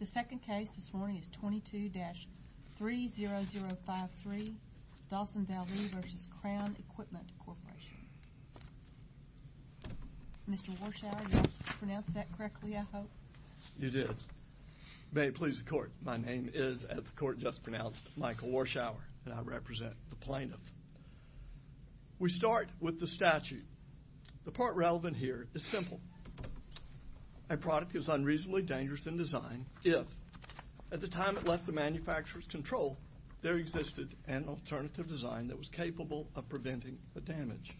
The second case this morning is 22-30053, Dawson-Valdez v. Crown Equipment Corporation. Mr. Warshower, did I pronounce that correctly, I hope? You did. May it please the court, my name is, as the court just pronounced, Michael Warshower, and I represent the plaintiff. We start with the statute. The part relevant here is simple. A product is unreasonably dangerous in design if, at the time it left the manufacturer's control, there existed an alternative design that was capable of preventing the damage.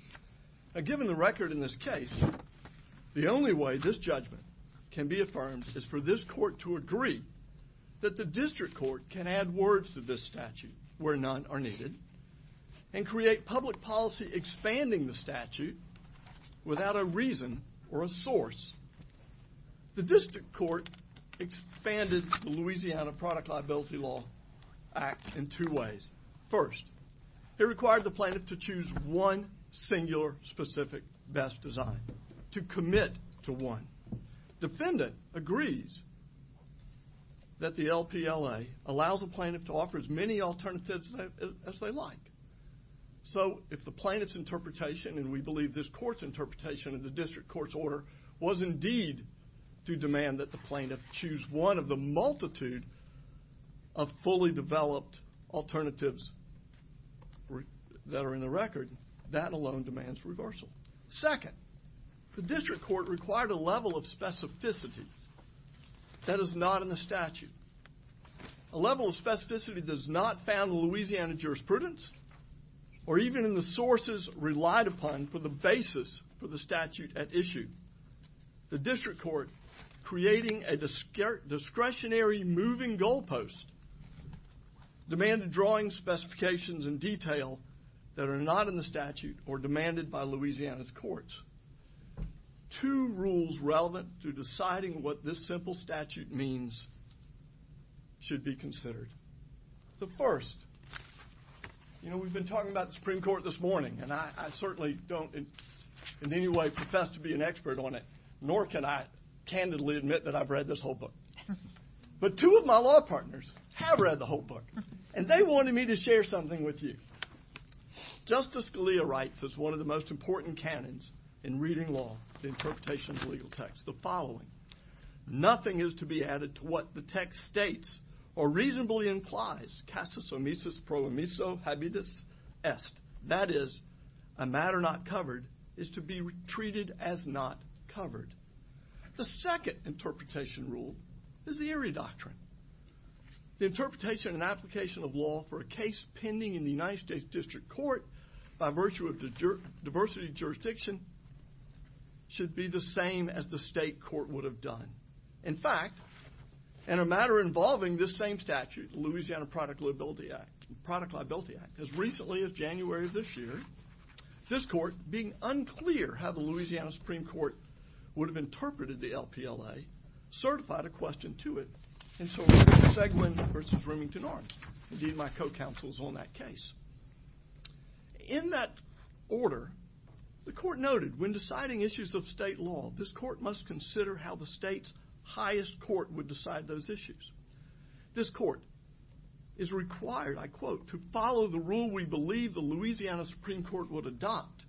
Given the record in this case, the only way this judgment can be affirmed is for this court to agree that the district court can add words to this statute where none are needed and create public policy expanding the statute without a reason or a source. The district court expanded the Louisiana Product Liability Law Act in two ways. First, it required the plaintiff to choose one singular specific best design, to commit to one. Defendant agrees that the LPLA allows the plaintiff to offer as many alternatives as they like. So if the plaintiff's interpretation, and we believe this court's interpretation of the district court's order, was indeed to demand that the plaintiff choose one of the multitude of fully developed alternatives that are in the record, that alone demands reversal. Second, the district court required a level of specificity that is not in the statute. A level of specificity that is not found in the Louisiana jurisprudence, or even in the sources relied upon for the basis for the statute at issue. The district court, creating a discretionary moving goal post, demanded drawing specifications in detail that are not in the statute or demanded by Louisiana's courts. Two rules relevant to deciding what this simple statute means should be considered. The first, you know, we've been talking about the Supreme Court this morning, and I certainly don't in any way profess to be an expert on it, nor can I candidly admit that I've read this whole book. But two of my law partners have read the whole book, and they wanted me to share something with you. Justice Scalia writes, it's one of the most important canons in reading law, the interpretation of legal text, the following. Nothing is to be added to what the text states or reasonably implies, casus omesis pro omiso habitus est. That is, a matter not covered is to be treated as not covered. The second interpretation rule is the Erie Doctrine. The interpretation and application of law for a case pending in the United States District Court by virtue of diversity jurisdiction should be the same as the state court would have done. In fact, in a matter involving this same statute, the Louisiana Product Liability Act, as recently as January of this year, this court, being unclear how the Louisiana Supreme Court would have interpreted the LPLA, certified a question to it, and so it was Seguin v. Roomington Arms. Indeed, my co-counsel is on that case. In that order, the court noted, when deciding issues of state law, this court must consider how the state's highest court would decide those issues. This court is required, I quote, to follow the rule we believe the Louisiana Supreme Court would adopt.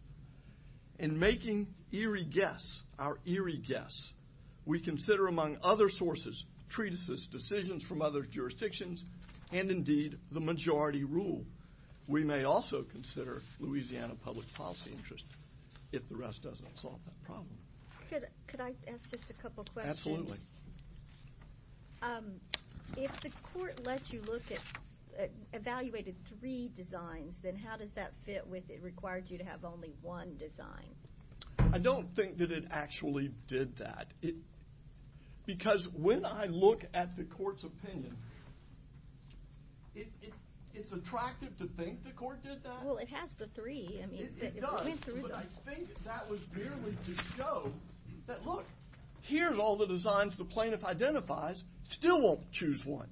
In making Erie guess, our Erie guess, we consider, among other sources, treatises, decisions from other jurisdictions, and indeed, the majority rule. We may also consider Louisiana public policy interest, if the rest doesn't solve that problem. Could I ask just a couple questions? Absolutely. If the court let you look at, evaluated three designs, then how does that fit with it required you to have only one design? I don't think that it actually did that. Because when I look at the court's opinion, it's attractive to think the court did that? Well, it has the three. It does, but I think that was merely to show that, look, here's all the designs the plaintiff identifies. Still won't choose one.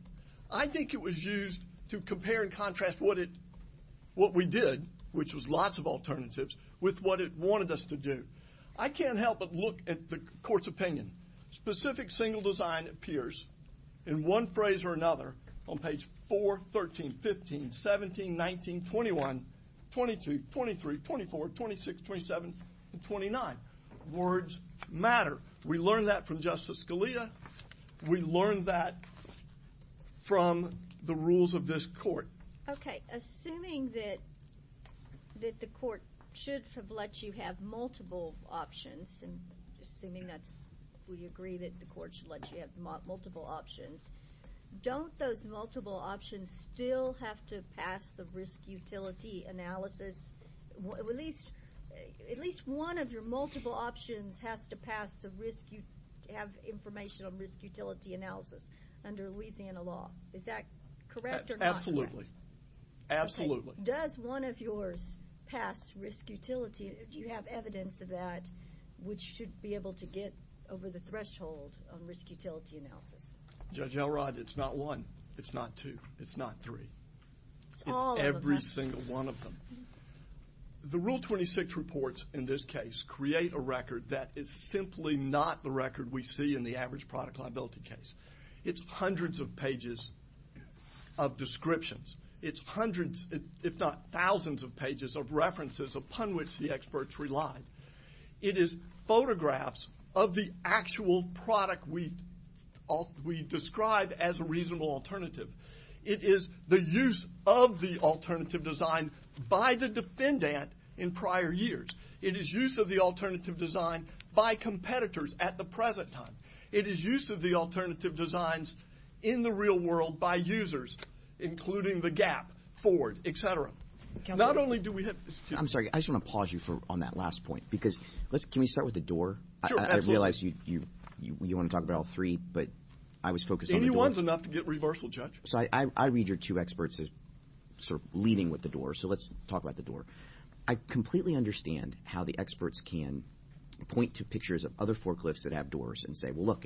I think it was used to compare and contrast what we did, which was lots of alternatives, with what it wanted us to do. I can't help but look at the court's opinion. Specific single design appears in one phrase or another on page 4, 13, 15, 17, 19, 21, 22, 23, 24, 26, 27, and 29. Words matter. We learned that from Justice Scalia. We learned that from the rules of this court. Okay. Assuming that the court should have let you have multiple options, and assuming that we agree that the court should let you have multiple options, don't those multiple options still have to pass the risk utility analysis? At least one of your multiple options has to pass to have information on risk utility analysis under Louisiana law. Is that correct or not? Absolutely. Okay. Does one of yours pass risk utility? Do you have evidence of that, which should be able to get over the threshold on risk utility analysis? Judge Elrod, it's not one. It's not two. It's not three. It's every single one of them. The Rule 26 reports in this case create a record that is simply not the record we see in the average product liability case. It's hundreds of pages of descriptions. It's hundreds, if not thousands, of pages of references upon which the experts relied. It is photographs of the actual product we describe as a reasonable alternative. It is the use of the alternative design by the defendant in prior years. It is use of the alternative design by competitors at the present time. It is use of the alternative designs in the real world by users, including the GAP, Ford, et cetera. I'm sorry. I just want to pause you on that last point. Can we start with the door? Sure, absolutely. So I read your two experts as sort of leading with the door, so let's talk about the door. I completely understand how the experts can point to pictures of other forklifts that have doors and say, well, look,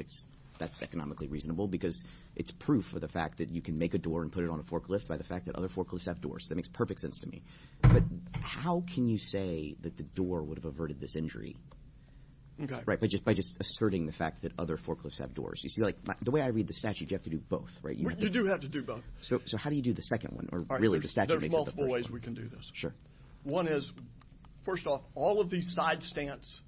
that's economically reasonable because it's proof of the fact that you can make a door and put it on a forklift by the fact that other forklifts have doors. That makes perfect sense to me. But how can you say that the door would have averted this injury? By just asserting the fact that other forklifts have doors. The way I read the statute, you have to do both, right? You do have to do both. So how do you do the second one? There's multiple ways we can do this. One is, first off, all of these side stance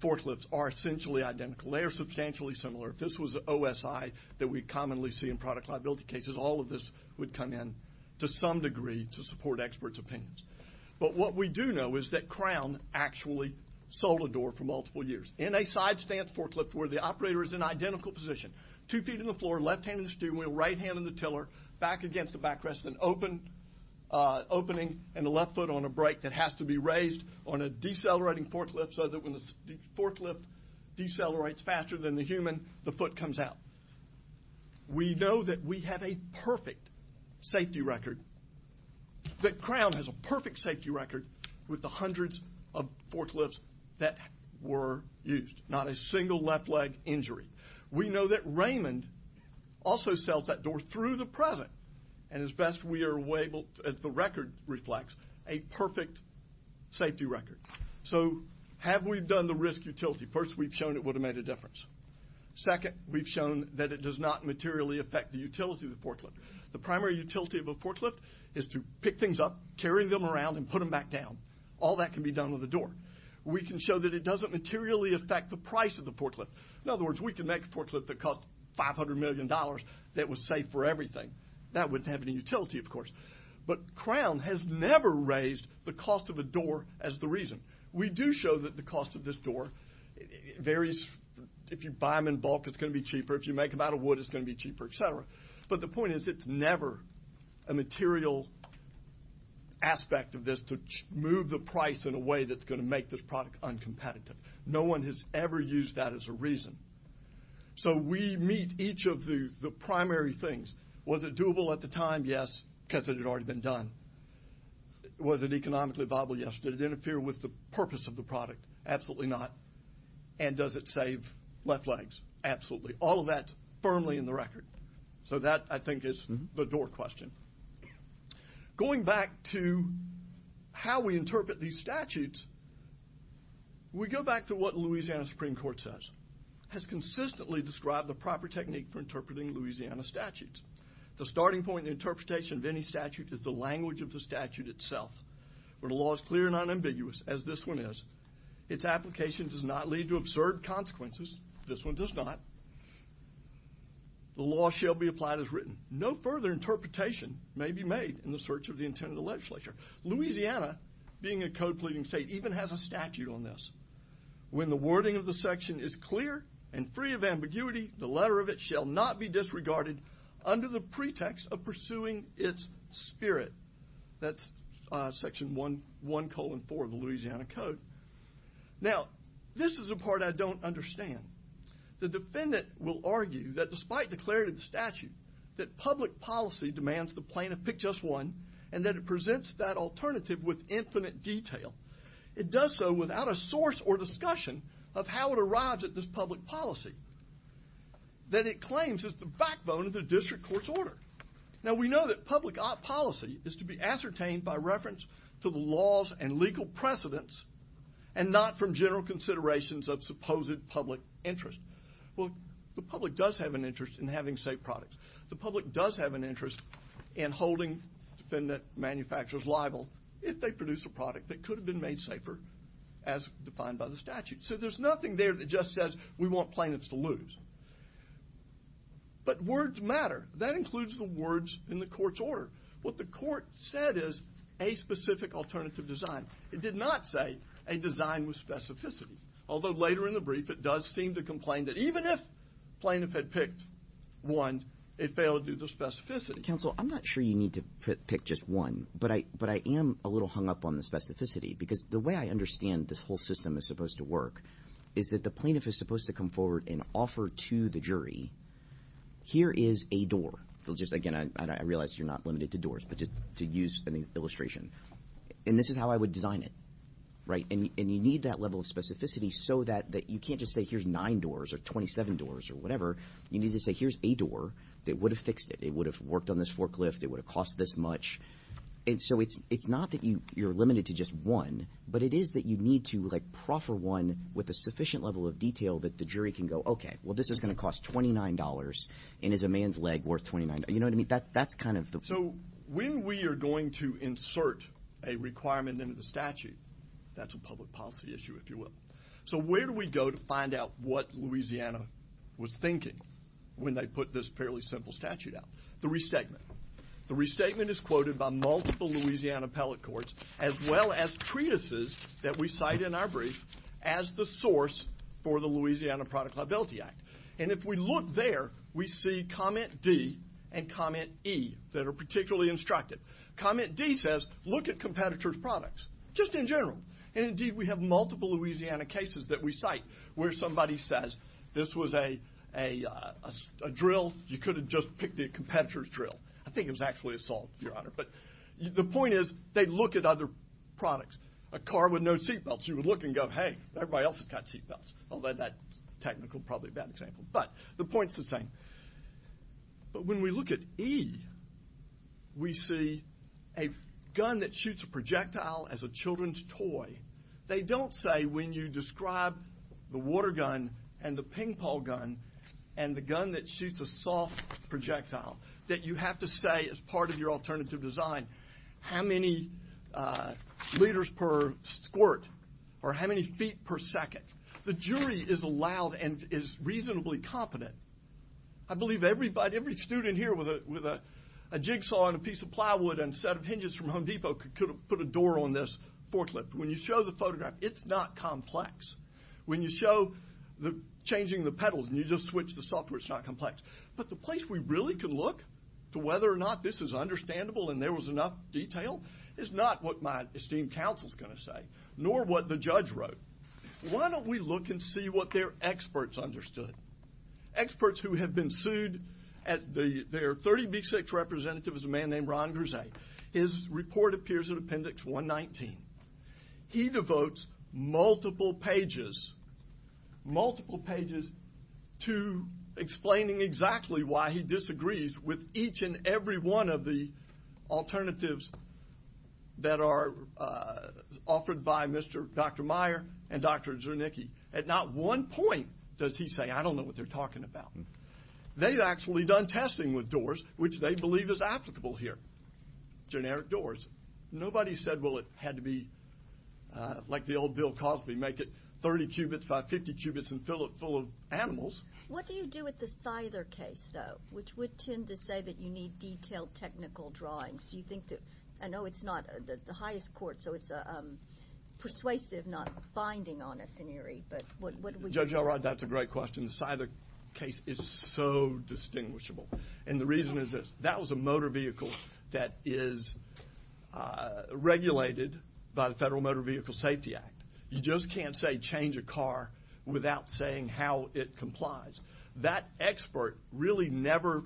forklifts are essentially identical. They are substantially similar. If this was an OSI that we commonly see in product liability cases, all of this would come in to some degree to support experts' opinions. But what we do know is that Crown actually sold a door for multiple years. In a side stance forklift where the operator is in identical position, two feet on the floor, left hand in the stew, right hand in the tiller, back against the backrest, an opening in the left foot on a brake that has to be raised on a decelerating forklift so that when the forklift decelerates faster than the human, the foot comes out. We know that we have a perfect safety record, that Crown has a perfect safety record with the hundreds of forklifts that were used, not a single left leg injury. We know that Raymond also sells that door through the present, and as best we are able, as the record reflects, a perfect safety record. So have we done the risk utility? First, we've shown it would have made a difference. Second, we've shown that it does not materially affect the utility of the forklift. The primary utility of a forklift is to pick things up, carry them around, and put them back down. All that can be done with a door. We can show that it doesn't materially affect the price of the forklift. In other words, we can make a forklift that costs $500 million, that was safe for everything. That wouldn't have any utility, of course. But Crown has never raised the cost of a door as the reason. We do show that the cost of this door varies. If you buy them in bulk, it's going to be cheaper. If you make them out of wood, it's going to be cheaper, et cetera. But the point is it's never a material aspect of this to move the price in a way that's going to make this product uncompetitive. No one has ever used that as a reason. So we meet each of the primary things. Was it doable at the time? Yes. Because it had already been done. Was it economically viable? Yes. Did it interfere with the purpose of the product? Absolutely not. And does it save left legs? Absolutely. All of that is firmly in the record. So that, I think, is the door question. Going back to how we interpret these statutes, we go back to what the Louisiana Supreme Court says. It has consistently described the proper technique for interpreting Louisiana statutes. The starting point in the interpretation of any statute is the language of the statute itself. Where the law is clear and unambiguous, as this one is, its application does not lead to absurd consequences. This one does not. The law shall be applied as written. No further interpretation may be made in the search of the intent of the legislature. Louisiana, being a code pleading state, even has a statute on this. When the wording of the section is clear and free of ambiguity, the letter of it shall not be disregarded under the pretext of pursuing its spirit. That's section 1-4 of the Louisiana Code. Now, this is the part I don't understand. The defendant will argue that despite the clarity of the statute, that public policy demands the plaintiff pick just one and that it presents that alternative with infinite detail. It does so without a source or discussion of how it arrives at this public policy that it claims is the backbone of the district court's order. Now, we know that public policy is to be ascertained by reference to the laws and legal precedents and not from general considerations of supposed public interest. Well, the public does have an interest in having safe products. The public does have an interest in holding defendant manufacturers liable if they produce a product that could have been made safer as defined by the statute. So there's nothing there that just says we want plaintiffs to lose. But words matter. That includes the words in the court's order. What the court said is a specific alternative design. It did not say a design with specificity, although later in the brief it does seem to complain that even if plaintiff had picked one, it failed due to specificity. Counsel, I'm not sure you need to pick just one, but I am a little hung up on the specificity because the way I understand this whole system is supposed to work is that the plaintiff is supposed to come forward and offer to the jury, here is a door. Again, I realize you're not limited to doors, but just to use an illustration. And this is how I would design it. And you need that level of specificity so that you can't just say here's nine doors or 27 doors or whatever. You need to say here's a door that would have fixed it. It would have worked on this forklift. It would have cost this much. So it's not that you're limited to just one, but it is that you need to proffer one with a sufficient level of detail that the jury can go, okay, well this is going to cost $29 and is a man's leg worth $29. You know what I mean? That's kind of the... So when we are going to insert a requirement into the statute, that's a public policy issue, if you will. So where do we go to find out what Louisiana was thinking when they put this fairly simple statute out? The restatement. The restatement is quoted by multiple Louisiana appellate courts as well as treatises that we cite in our brief as the source for the Louisiana Product Liability Act. And if we look there, we see comment D and comment E that are particularly instructive. Comment D says look at competitor's products, just in general. And indeed we have multiple Louisiana cases that we cite where somebody says this was a drill. You could have just picked the competitor's drill. I think it was actually a salt, Your Honor. But the point is they look at other products. A car with no seatbelts. You would look and go, hey, everybody else has got seatbelts. Although that technical is probably a bad example. But the point is the same. But when we look at E, we see a gun that shoots a projectile as a children's toy. They don't say when you describe the water gun and the ping-pong gun and the gun that shoots a soft projectile that you have to say as part of your alternative design how many liters per squirt or how many feet per second. The jury is allowed and is reasonably competent. I believe every student here with a jigsaw and a piece of plywood and a set of hinges from Home Depot could put a door on this forklift. When you show the photograph, it's not complex. When you show changing the pedals and you just switch the software, it's not complex. But the place we really can look to whether or not this is understandable and there was enough detail is not what my esteemed counsel is going to say, nor what the judge wrote. Why don't we look and see what their experts understood? Experts who have been sued. Their 30B6 representative is a man named Ron Grise. His report appears in Appendix 119. He devotes multiple pages to explaining exactly why he disagrees with each and every one of the alternatives that are offered by Dr. Meyer and Dr. Zernicki. At not one point does he say, I don't know what they're talking about. They've actually done testing with doors, which they believe is applicable here. Generic doors. Nobody said, well, it had to be like the old Bill Cosby, make it 30 cubits, 550 cubits, and fill it full of animals. Judge, what do you do with the Scyther case, though, which would tend to say that you need detailed technical drawings? Do you think that, I know it's not the highest court, so it's persuasive not binding on a scenario, but what do we do? Judge Elrod, that's a great question. The Scyther case is so distinguishable, and the reason is this. That was a motor vehicle that is regulated by the Federal Motor Vehicle Safety Act. You just can't say change a car without saying how it complies. That expert really never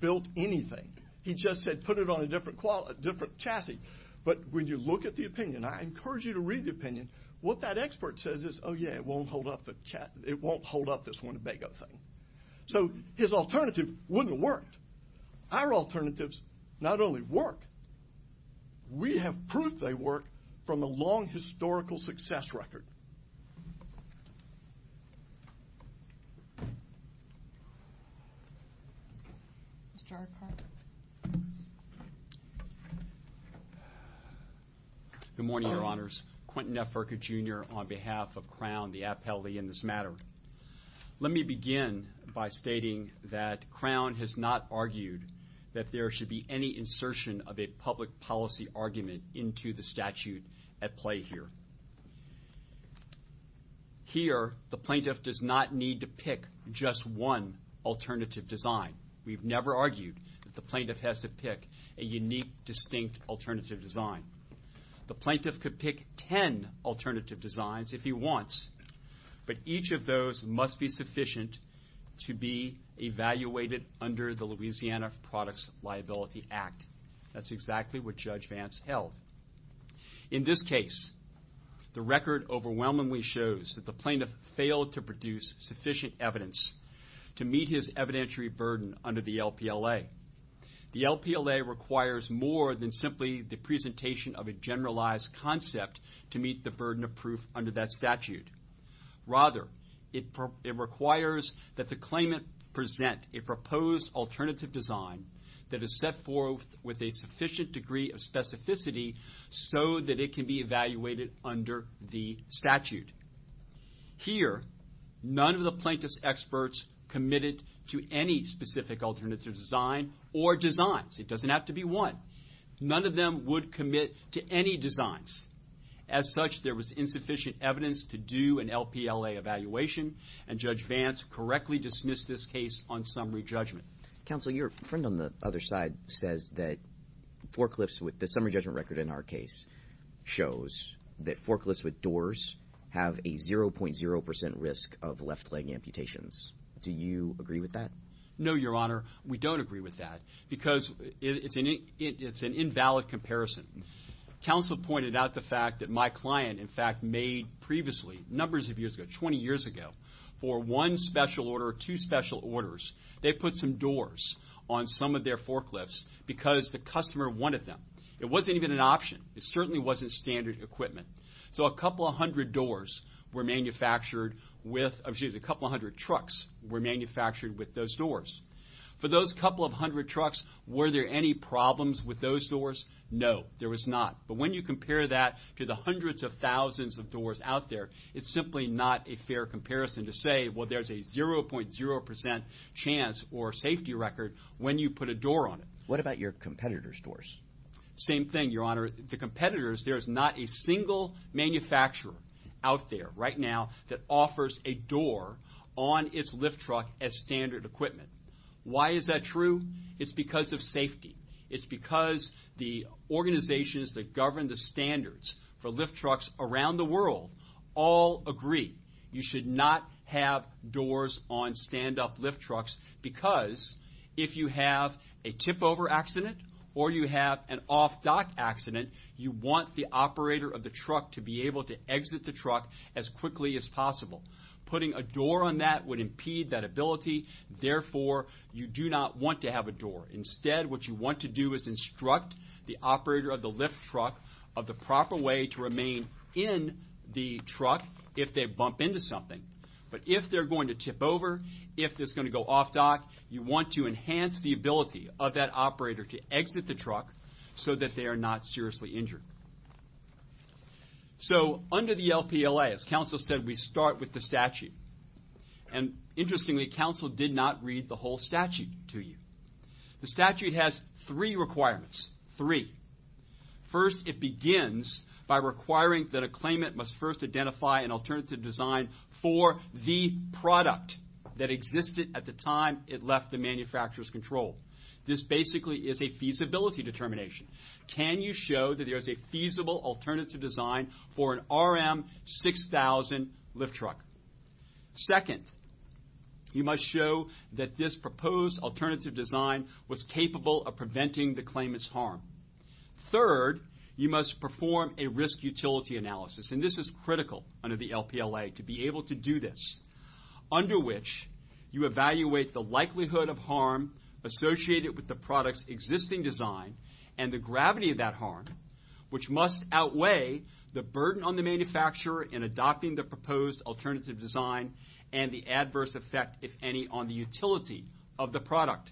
built anything. He just said put it on a different chassis. But when you look at the opinion, I encourage you to read the opinion, what that expert says is, oh, yeah, it won't hold up this Winnebago thing. So his alternative wouldn't have worked. Our alternatives not only work, we have proof they work from a long historical success record. Good morning, Your Honors. Quentin F. Urca, Jr., on behalf of Crown, the appellee in this matter. Let me begin by stating that Crown has not argued that there should be any insertion of a public policy argument into the statute at play here. Here, the plaintiff does not need to pick just one alternative design. We've never argued that the plaintiff has to pick a unique, distinct alternative design. The plaintiff could pick ten alternative designs if he wants, but each of those must be sufficient to be evaluated under the Louisiana Products Liability Act. That's exactly what Judge Vance held. In this case, the record overwhelmingly shows that the plaintiff failed to produce sufficient evidence to meet his evidentiary burden under the LPLA. The LPLA requires more than simply the presentation of a generalized concept to meet the burden of proof under that statute. Rather, it requires that the claimant present a proposed alternative design that is set forth with a sufficient degree of specificity so that it can be evaluated under the statute. Here, none of the plaintiff's experts committed to any specific alternative design or designs. It doesn't have to be one. None of them would commit to any designs. As such, there was insufficient evidence to do an LPLA evaluation, and Judge Vance correctly dismissed this case on summary judgment. Counsel, your friend on the other side says that forklifts with the summary judgment record in our case shows that forklifts with doors have a 0.0% risk of left-leg amputations. Do you agree with that? No, Your Honor, we don't agree with that because it's an invalid comparison. Counsel pointed out the fact that my client, in fact, made previously, numbers of years ago, 20 years ago, for one special order or two special orders, they put some doors on some of their forklifts because the customer wanted them. It wasn't even an option. It certainly wasn't standard equipment. So a couple hundred doors were manufactured with, excuse me, a couple hundred trucks were manufactured with those doors. For those couple of hundred trucks, were there any problems with those doors? No, there was not. But when you compare that to the hundreds of thousands of doors out there, it's simply not a fair comparison to say, well, there's a 0.0% chance or safety record when you put a door on it. What about your competitors' doors? Same thing, Your Honor. The competitors, there is not a single manufacturer out there right now that offers a door on its lift truck as standard equipment. Why is that true? It's because of safety. It's because the organizations that govern the standards for lift trucks around the world all agree. You should not have doors on stand-up lift trucks because if you have a tip-over accident or you have an off-dock accident, you want the operator of the truck to be able to exit the truck as quickly as possible. Putting a door on that would impede that ability. Therefore, you do not want to have a door. Instead, what you want to do is instruct the operator of the lift truck of the proper way to remain in the truck if they bump into something. But if they're going to tip over, if it's going to go off-dock, so that they are not seriously injured. So under the LPLA, as counsel said, we start with the statute. And interestingly, counsel did not read the whole statute to you. The statute has three requirements, three. First, it begins by requiring that a claimant must first identify an alternative design for the product that existed at the time it left the manufacturer's control. This basically is a feasibility determination. Can you show that there is a feasible alternative design for an RM6000 lift truck? Second, you must show that this proposed alternative design was capable of preventing the claimant's harm. Third, you must perform a risk utility analysis. And this is critical under the LPLA to be able to do this. Under which, you evaluate the likelihood of harm associated with the product's existing design and the gravity of that harm, which must outweigh the burden on the manufacturer in adopting the proposed alternative design and the adverse effect, if any, on the utility of the product.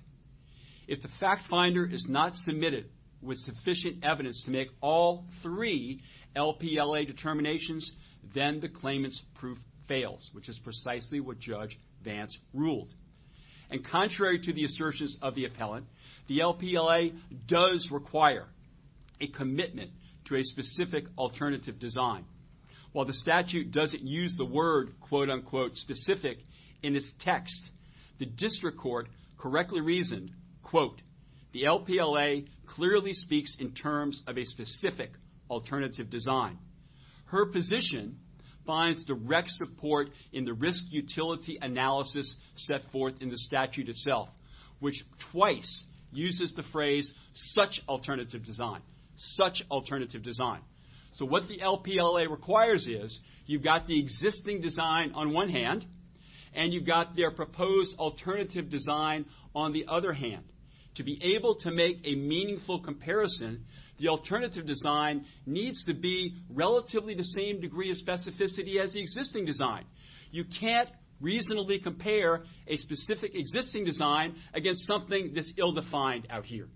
If the fact finder is not submitted with sufficient evidence to make all three LPLA determinations, then the claimant's proof fails, which is precisely what Judge Vance ruled. And contrary to the assertions of the appellant, the LPLA does require a commitment to a specific alternative design. While the statute doesn't use the word, quote-unquote, specific in its text, the district court correctly reasoned, quote, the LPLA clearly speaks in terms of a specific alternative design. Her position finds direct support in the risk utility analysis set forth in the statute itself, which twice uses the phrase, such alternative design, such alternative design. So what the LPLA requires is you've got the existing design on one hand and you've got their proposed alternative design on the other hand. To be able to make a meaningful comparison, the alternative design needs to be relatively the same degree of specificity as the existing design. You can't reasonably compare a specific existing design against something that's ill-defined out here.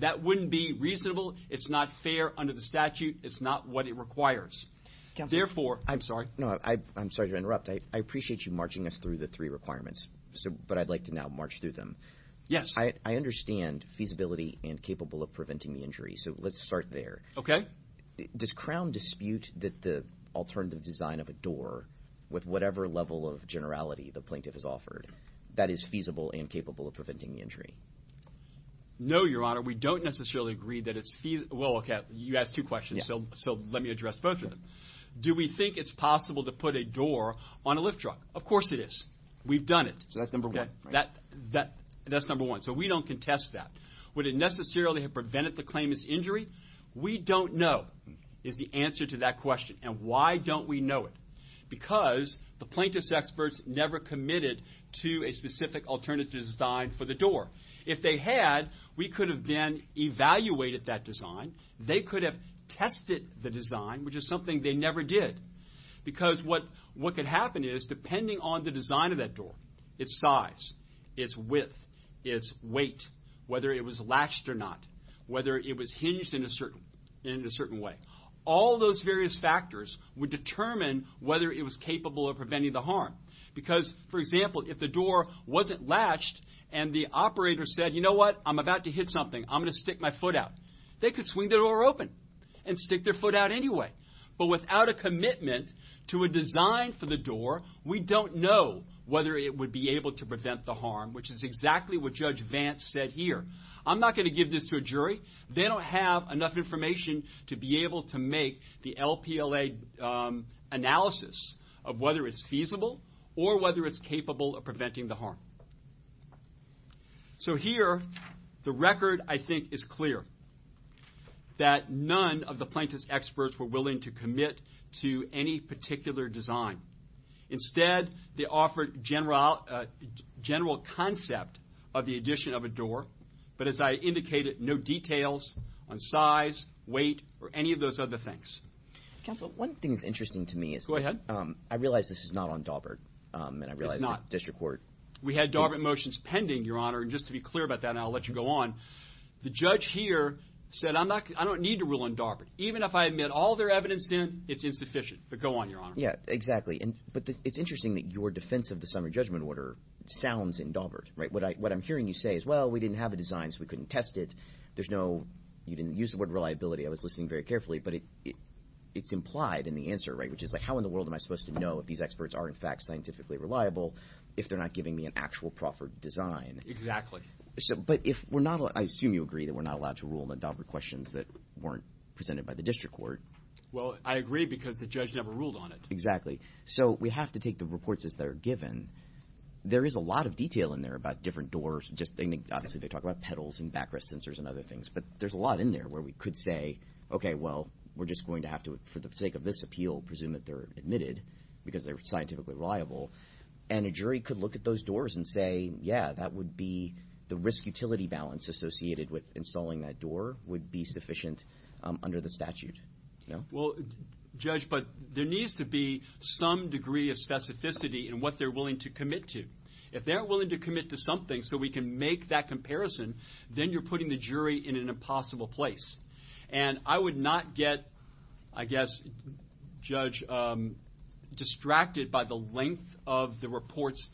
That wouldn't be reasonable. It's not fair under the statute. It's not what it requires. I'm sorry to interrupt. I appreciate you marching us through the three requirements, but I'd like to now march through them. Yes. I understand feasibility and capable of preventing the injury, so let's start there. Okay. Does Crown dispute that the alternative design of a door with whatever level of generality the plaintiff has offered, that is feasible and capable of preventing injury? No, Your Honor. We don't necessarily agree that it's feasible. Well, okay, you asked two questions, so let me address both of them. Do we think it's possible to put a door on a lift truck? Of course it is. We've done it. So that's number one. That's number one. So we don't contest that. Would it necessarily have prevented the claimant's injury? We don't know is the answer to that question. And why don't we know it? Because the plaintiff's experts never committed to a specific alternative design for the door. If they had, we could have then evaluated that design. They could have tested the design, which is something they never did. Because what could happen is, depending on the design of that door, its size, its width, its weight, whether it was latched or not, whether it was hinged in a certain way, all those various factors would determine whether it was capable of preventing the harm. Because, for example, if the door wasn't latched and the operator said, you know what, I'm about to hit something, I'm going to stick my foot out, they could swing the door open and stick their foot out anyway. But without a commitment to a design for the door, we don't know whether it would be able to prevent the harm, which is exactly what Judge Vance said here. I'm not going to give this to a jury. They don't have enough information to be able to make the LPLA analysis of whether it's feasible or whether it's capable of preventing the harm. So here, the record, I think, is clear, that none of the plaintiff's experts were willing to commit to any particular design. Instead, they offered general concept of the addition of a door, but as I indicated, no details on size, weight, or any of those other things. Counsel, one thing that's interesting to me is I realize this is not on Daubert and I realize it's not district court. We had Daubert motions pending, Your Honor, and just to be clear about that, and I'll let you go on, the judge here said, I don't need to rule on Daubert. Even if I admit all their evidence in, it's insufficient. But go on, Your Honor. Yeah, exactly. But it's interesting that your defense of the summary judgment order sounds in Daubert. What I'm hearing you say is, well, we didn't have a design, so we couldn't test it. You didn't use the word reliability. I was listening very carefully, but it's implied in the answer, right, which is how in the world am I supposed to know if these experts are, in fact, scientifically reliable if they're not giving me an actual proffered design? Exactly. But I assume you agree that we're not allowed to rule on the Daubert questions that weren't presented by the district court. Well, I agree because the judge never ruled on it. Exactly. So we have to take the reports as they're given. There is a lot of detail in there about different doors. Obviously, they talk about pedals and backrest sensors and other things, but there's a lot in there where we could say, okay, well, we're just going to have to, for the sake of this appeal, presume that they're admitted because they're scientifically reliable. And a jury could look at those doors and say, yeah, that would be the risk utility balance associated with installing that door would be sufficient under the statute. Well, Judge, but there needs to be some degree of specificity in what they're willing to commit to. If they're willing to commit to something so we can make that comparison, then you're putting the jury in an impossible place. And I would not get, I guess, Judge, distracted by the length of the reports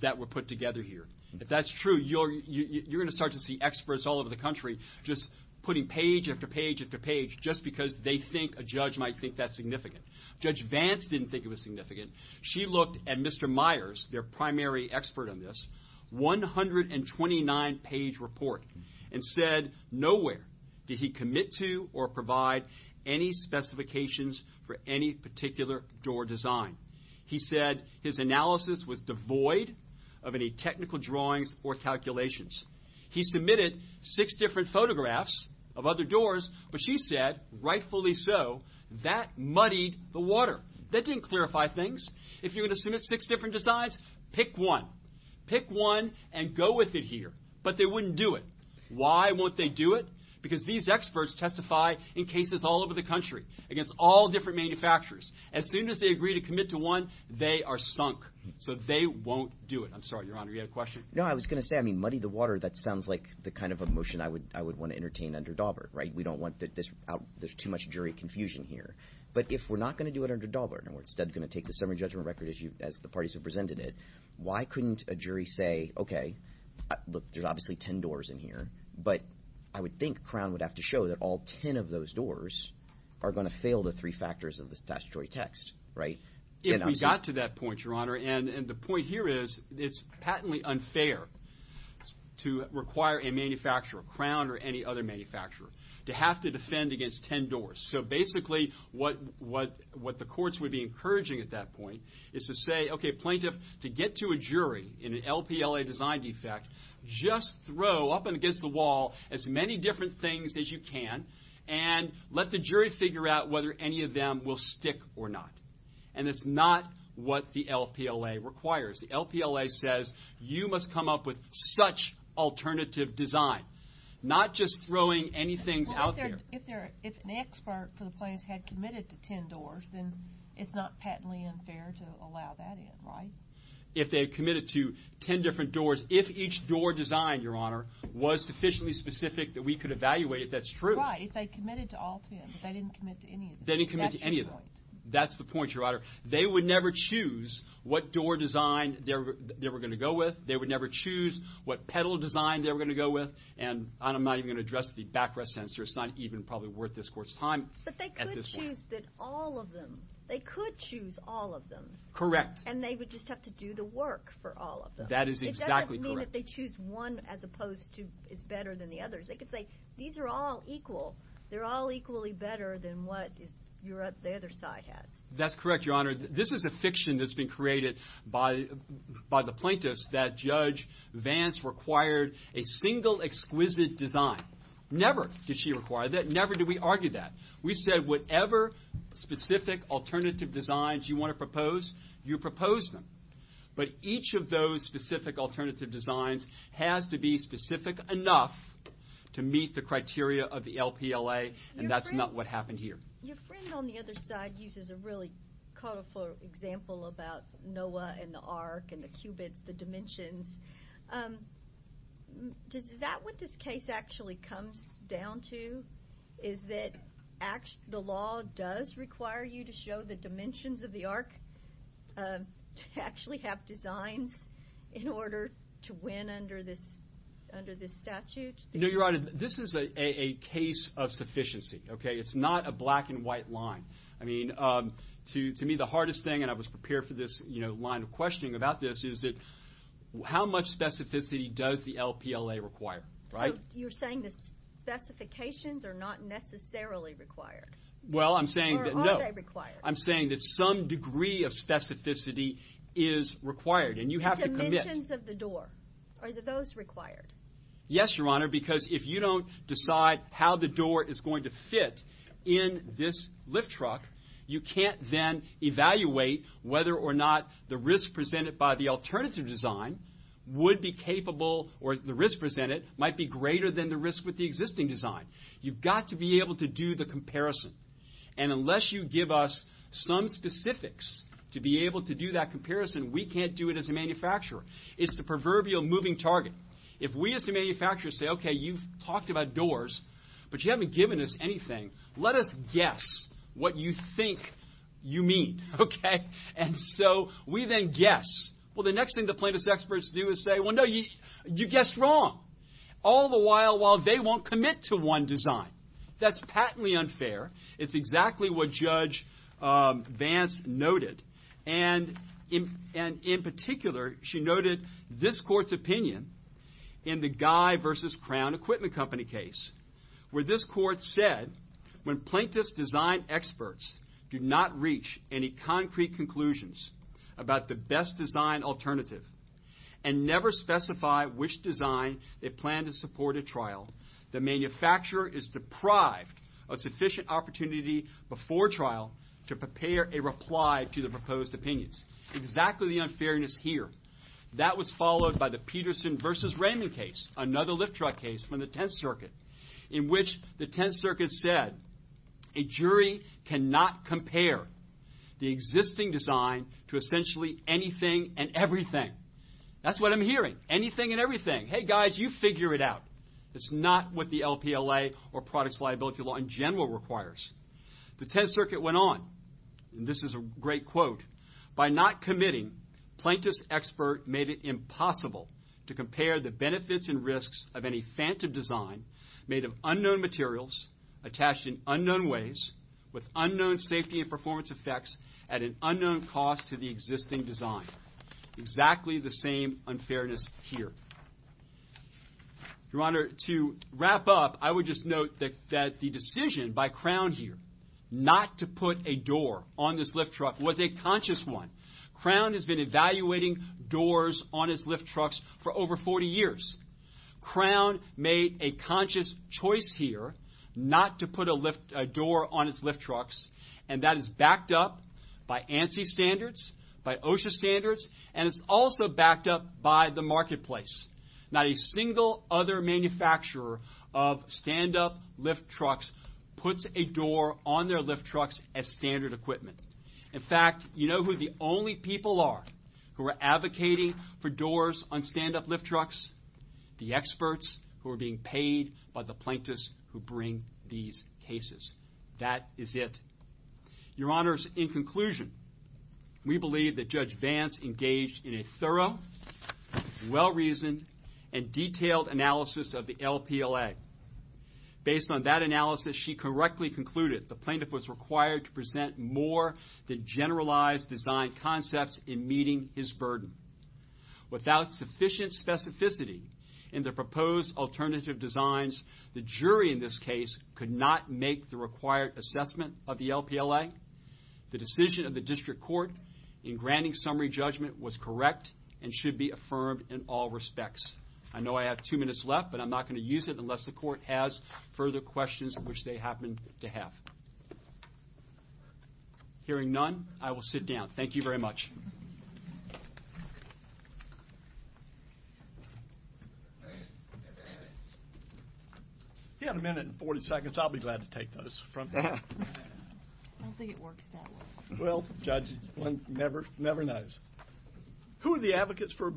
that were put together here. If that's true, you're going to start to see experts all over the country just putting page after page after page just because they think a judge might think that's significant. Judge Vance didn't think it was significant. She looked at Mr. Myers, their primary expert on this, 129-page report and said nowhere did he commit to or provide any specifications for any particular door design. He said his analysis was devoid of any technical drawings or calculations. He submitted six different photographs of other doors, but she said, rightfully so, that muddied the water. That didn't clarify things. If you're going to submit six different designs, pick one. Pick one and go with it here. But they wouldn't do it. Why won't they do it? Because these experts testify in cases all over the country against all different manufacturers. As soon as they agree to commit to one, they are sunk. So they won't do it. I'm sorry, Your Honor, you had a question? No, I was going to say, I mean, muddy the water, that sounds like the kind of emotion I would want to entertain under Daubert, right? We don't want this out. There's too much jury confusion here. But if we're not going to do it under Daubert and we're instead going to take the summary judgment record as the parties have presented it, why couldn't a jury say, okay, look, there's obviously ten doors in here, but I would think Crown would have to show that all ten of those doors are going to fail the three factors of the statutory text, right? If we got to that point, Your Honor, and the point here is it's patently unfair to require a manufacturer, Crown or any other manufacturer, to have to defend against ten doors. So basically what the courts would be encouraging at that point is to say, okay, plaintiff, to get to a jury in an LPLA design defect, just throw up against the wall as many different things as you can and let the jury figure out whether any of them will stick or not. And that's not what the LPLA requires. The LPLA says you must come up with such alternative design, not just throwing any things out there. Well, if an expert for the plaintiffs had committed to ten doors, then it's not patently unfair to allow that in, right? If they had committed to ten different doors, if each door design, Your Honor, was sufficiently specific that we could evaluate it, that's true. Right, if they committed to all ten, but they didn't commit to any of them. That's your point. That's the point, Your Honor. They would never choose what door design they were going to go with. They would never choose what pedal design they were going to go with. And I'm not even going to address the backrest sensor. It's not even probably worth this court's time at this point. But they could choose all of them. They could choose all of them. Correct. And they would just have to do the work for all of them. That is exactly correct. It doesn't mean that they choose one as opposed to is better than the others. They could say these are all equal. They're all equally better than what the other side has. That's correct, Your Honor. This is a fiction that's been created by the plaintiffs that Judge Vance required a single exquisite design. Never did she require that. Never did we argue that. We said whatever specific alternative designs you want to propose, you propose them. But each of those specific alternative designs has to be specific enough to meet the criteria of the LPLA, and that's not what happened here. Your friend on the other side uses a really colorful example about NOAA and the ARC and the qubits, the dimensions. Is that what this case actually comes down to, is that the law does require you to show the dimensions of the ARC to actually have designs in order to win under this statute? No, Your Honor, this is a case of sufficiency. It's not a black and white line. I mean, to me, the hardest thing, and I was prepared for this line of questioning about this, is how much specificity does the LPLA require? So you're saying the specifications are not necessarily required? Well, I'm saying that no. Or are they required? I'm saying that some degree of specificity is required, and you have to commit. The dimensions of the door, are those required? Yes, Your Honor, because if you don't decide how the door is going to fit in this lift truck, you can't then evaluate whether or not the risk presented by the alternative design would be capable, or the risk presented might be greater than the risk with the existing design. You've got to be able to do the comparison, and unless you give us some specifics to be able to do that comparison, we can't do it as a manufacturer. It's the proverbial moving target. If we as a manufacturer say, okay, you've talked about doors, but you haven't given us anything, let us guess what you think you mean, okay? And so we then guess. Well, the next thing the plaintiff's experts do is say, well, no, you guessed wrong. All the while they won't commit to one design. That's patently unfair. It's exactly what Judge Vance noted. And in particular, she noted this court's opinion in the Guy v. Crown Equipment Company case, where this court said when plaintiff's design experts do not reach any concrete conclusions about the best design alternative and never specify which design they plan to support at trial, the manufacturer is deprived of sufficient opportunity before trial to prepare a reply to the proposed opinions. Exactly the unfairness here. That was followed by the Peterson v. Raymond case, another lift truck case from the Tenth Circuit, in which the Tenth Circuit said a jury cannot compare the existing design to essentially anything and everything. That's what I'm hearing, anything and everything. Hey, guys, you figure it out. It's not what the LPLA or products liability law in general requires. The Tenth Circuit went on, and this is a great quote, by not committing, plaintiff's expert made it impossible to compare the benefits and risks of any phantom design made of unknown materials attached in unknown ways with unknown safety and performance effects at an unknown cost to the existing design. Exactly the same unfairness here. Your Honor, to wrap up, I would just note that the decision by Crown here not to put a door on this lift truck was a conscious one. Crown has been evaluating doors on its lift trucks for over 40 years. Crown made a conscious choice here not to put a door on its lift trucks, and that is backed up by ANSI standards, by OSHA standards, and it's also backed up by the marketplace. Not a single other manufacturer of stand-up lift trucks puts a door on their lift trucks as standard equipment. In fact, you know who the only people are who are advocating for doors on stand-up lift trucks? The experts who are being paid by the plaintiffs who bring these cases. That is it. Your Honors, in conclusion, we believe that Judge Vance engaged in a thorough, well-reasoned, and detailed analysis of the LPLA. Based on that analysis, she correctly concluded the plaintiff was required to present more than generalized design concepts in meeting his burden. Without sufficient specificity in the proposed alternative designs, the jury in this case could not make the required assessment of the LPLA. The decision of the District Court in granting summary judgment was correct and should be affirmed in all respects. I know I have two minutes left, but I'm not going to use it unless the Court has further questions, which they happen to have. Hearing none, I will sit down. Thank you very much. He had a minute and 40 seconds. I'll be glad to take those from him. I don't think it works that way. Well, Judge, one never knows. Who are the advocates for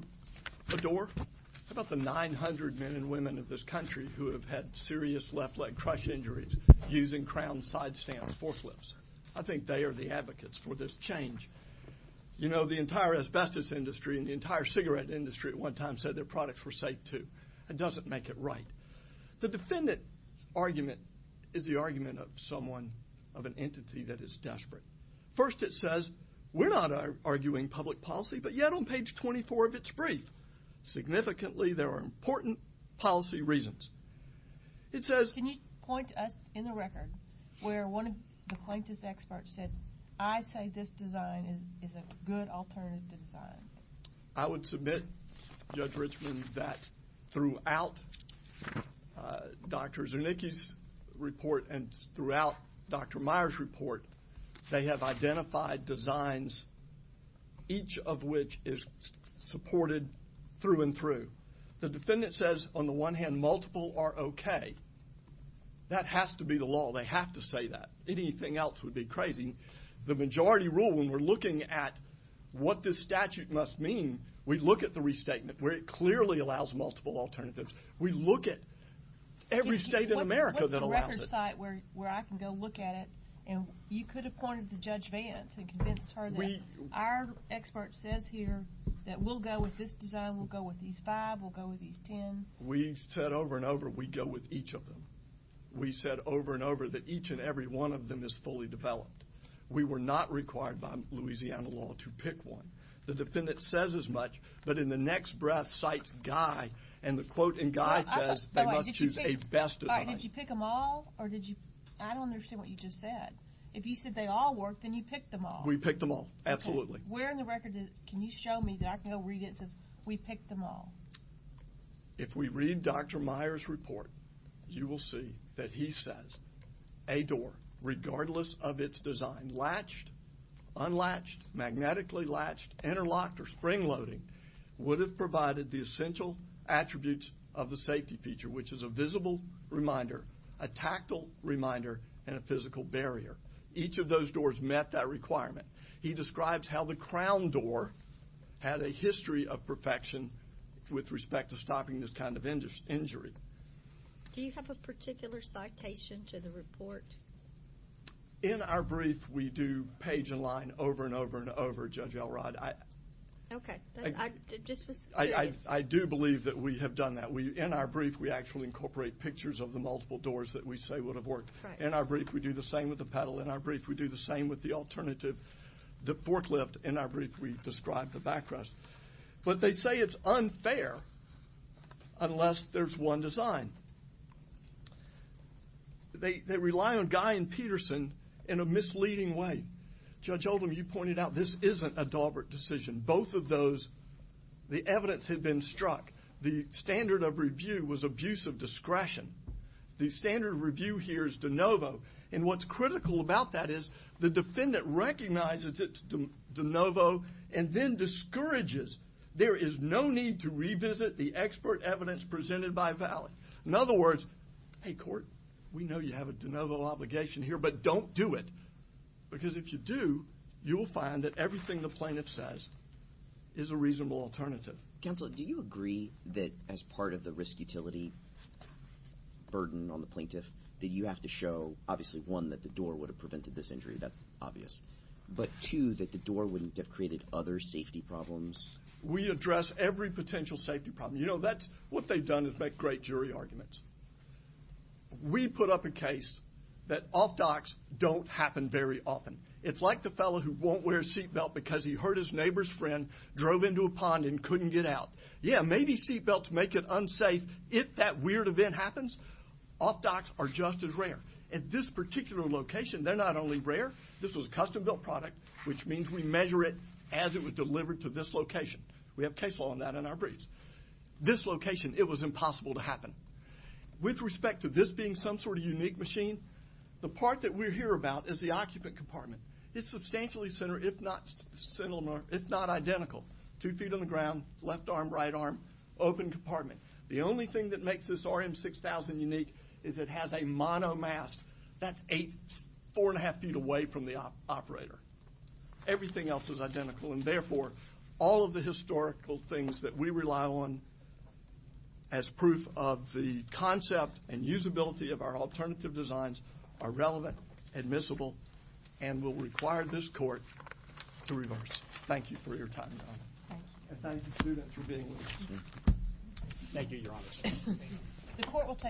a door? How about the 900 men and women of this country who have had serious left leg crush injuries using crown sidestand forklifts? I think they are the advocates for this change. You know, the entire asbestos industry and the entire cigarette industry at one time said their products were safe too. That doesn't make it right. The defendant's argument is the argument of someone, of an entity, that is desperate. First it says, we're not arguing public policy, but yet on page 24 of its brief, significantly there are important policy reasons. Can you point us in the record where one of the plaintiff's experts said, I say this design is a good alternative design? I would submit, Judge Richmond, that throughout Dr. Zernicki's report and throughout Dr. Meyer's report, they have identified designs, each of which is supported through and through. The defendant says, on the one hand, multiple are okay. That has to be the law. They have to say that. Anything else would be crazy. The majority rule, when we're looking at what this statute must mean, we look at the restatement where it clearly allows multiple alternatives. We look at every state in America that allows it. What's the record site where I can go look at it? You could have pointed to Judge Vance and convinced her that our expert says here that we'll go with this design, we'll go with these five, we'll go with these ten. We said over and over we'd go with each of them. We said over and over that each and every one of them is fully developed. We were not required by Louisiana law to pick one. The defendant says as much, but in the next breath cites Guy, and the quote in Guy says they must choose a best design. Did you pick them all? I don't understand what you just said. If you said they all worked, then you picked them all. We picked them all, absolutely. Where in the record can you show me that I can go read it that says we picked them all? If we read Dr. Meyer's report, you will see that he says a door, regardless of its design, latched, unlatched, magnetically latched, interlocked, or spring-loaded, would have provided the essential attributes of the safety feature, which is a visible reminder, a tactile reminder, and a physical barrier. Each of those doors met that requirement. He describes how the crown door had a history of perfection with respect to stopping this kind of injury. Do you have a particular citation to the report? In our brief, we do page and line over and over and over, Judge Elrod. Okay. I just was curious. I do believe that we have done that. In our brief, we actually incorporate pictures of the multiple doors that we say would have worked. In our brief, we do the same with the pedal. In our brief, we do the same with the alternative, the forklift. In our brief, we describe the backrest. But they say it's unfair unless there's one design. They rely on Guy and Peterson in a misleading way. Judge Oldham, you pointed out this isn't a Daubert decision. Both of those, the evidence had been struck. The standard of review was abuse of discretion. The standard of review here is de novo. And what's critical about that is the defendant recognizes it's de novo and then discourages there is no need to revisit the expert evidence presented by Valley. In other words, hey, court, we know you have a de novo obligation here, but don't do it. Because if you do, you will find that everything the plaintiff says is a reasonable alternative. Counsel, do you agree that as part of the risk utility burden on the plaintiff that you have to show, obviously, one, that the door would have prevented this injury, that's obvious, but two, that the door wouldn't have created other safety problems? We address every potential safety problem. You know, what they've done is make great jury arguments. We put up a case that off-docs don't happen very often. It's like the fellow who won't wear a seatbelt because he hurt his neighbor's friend, drove into a pond and couldn't get out. Yeah, maybe seatbelts make it unsafe if that weird event happens. Off-docs are just as rare. At this particular location, they're not only rare, this was a custom-built product, which means we measure it as it was delivered to this location. We have case law on that in our briefs. This location, it was impossible to happen. With respect to this being some sort of unique machine, the part that we're here about is the occupant compartment. It's substantially similar, if not identical. Two feet on the ground, left arm, right arm, open compartment. The only thing that makes this RM6000 unique is it has a monomask. That's four and a half feet away from the operator. Everything else is identical, and therefore all of the historical things that we rely on as proof of the concept and usability of our alternative designs are relevant, admissible, and will require this court to reverse. Thank you for your time, Donna. Thanks. And thank you, student, for being with us. Thank you, Your Honor.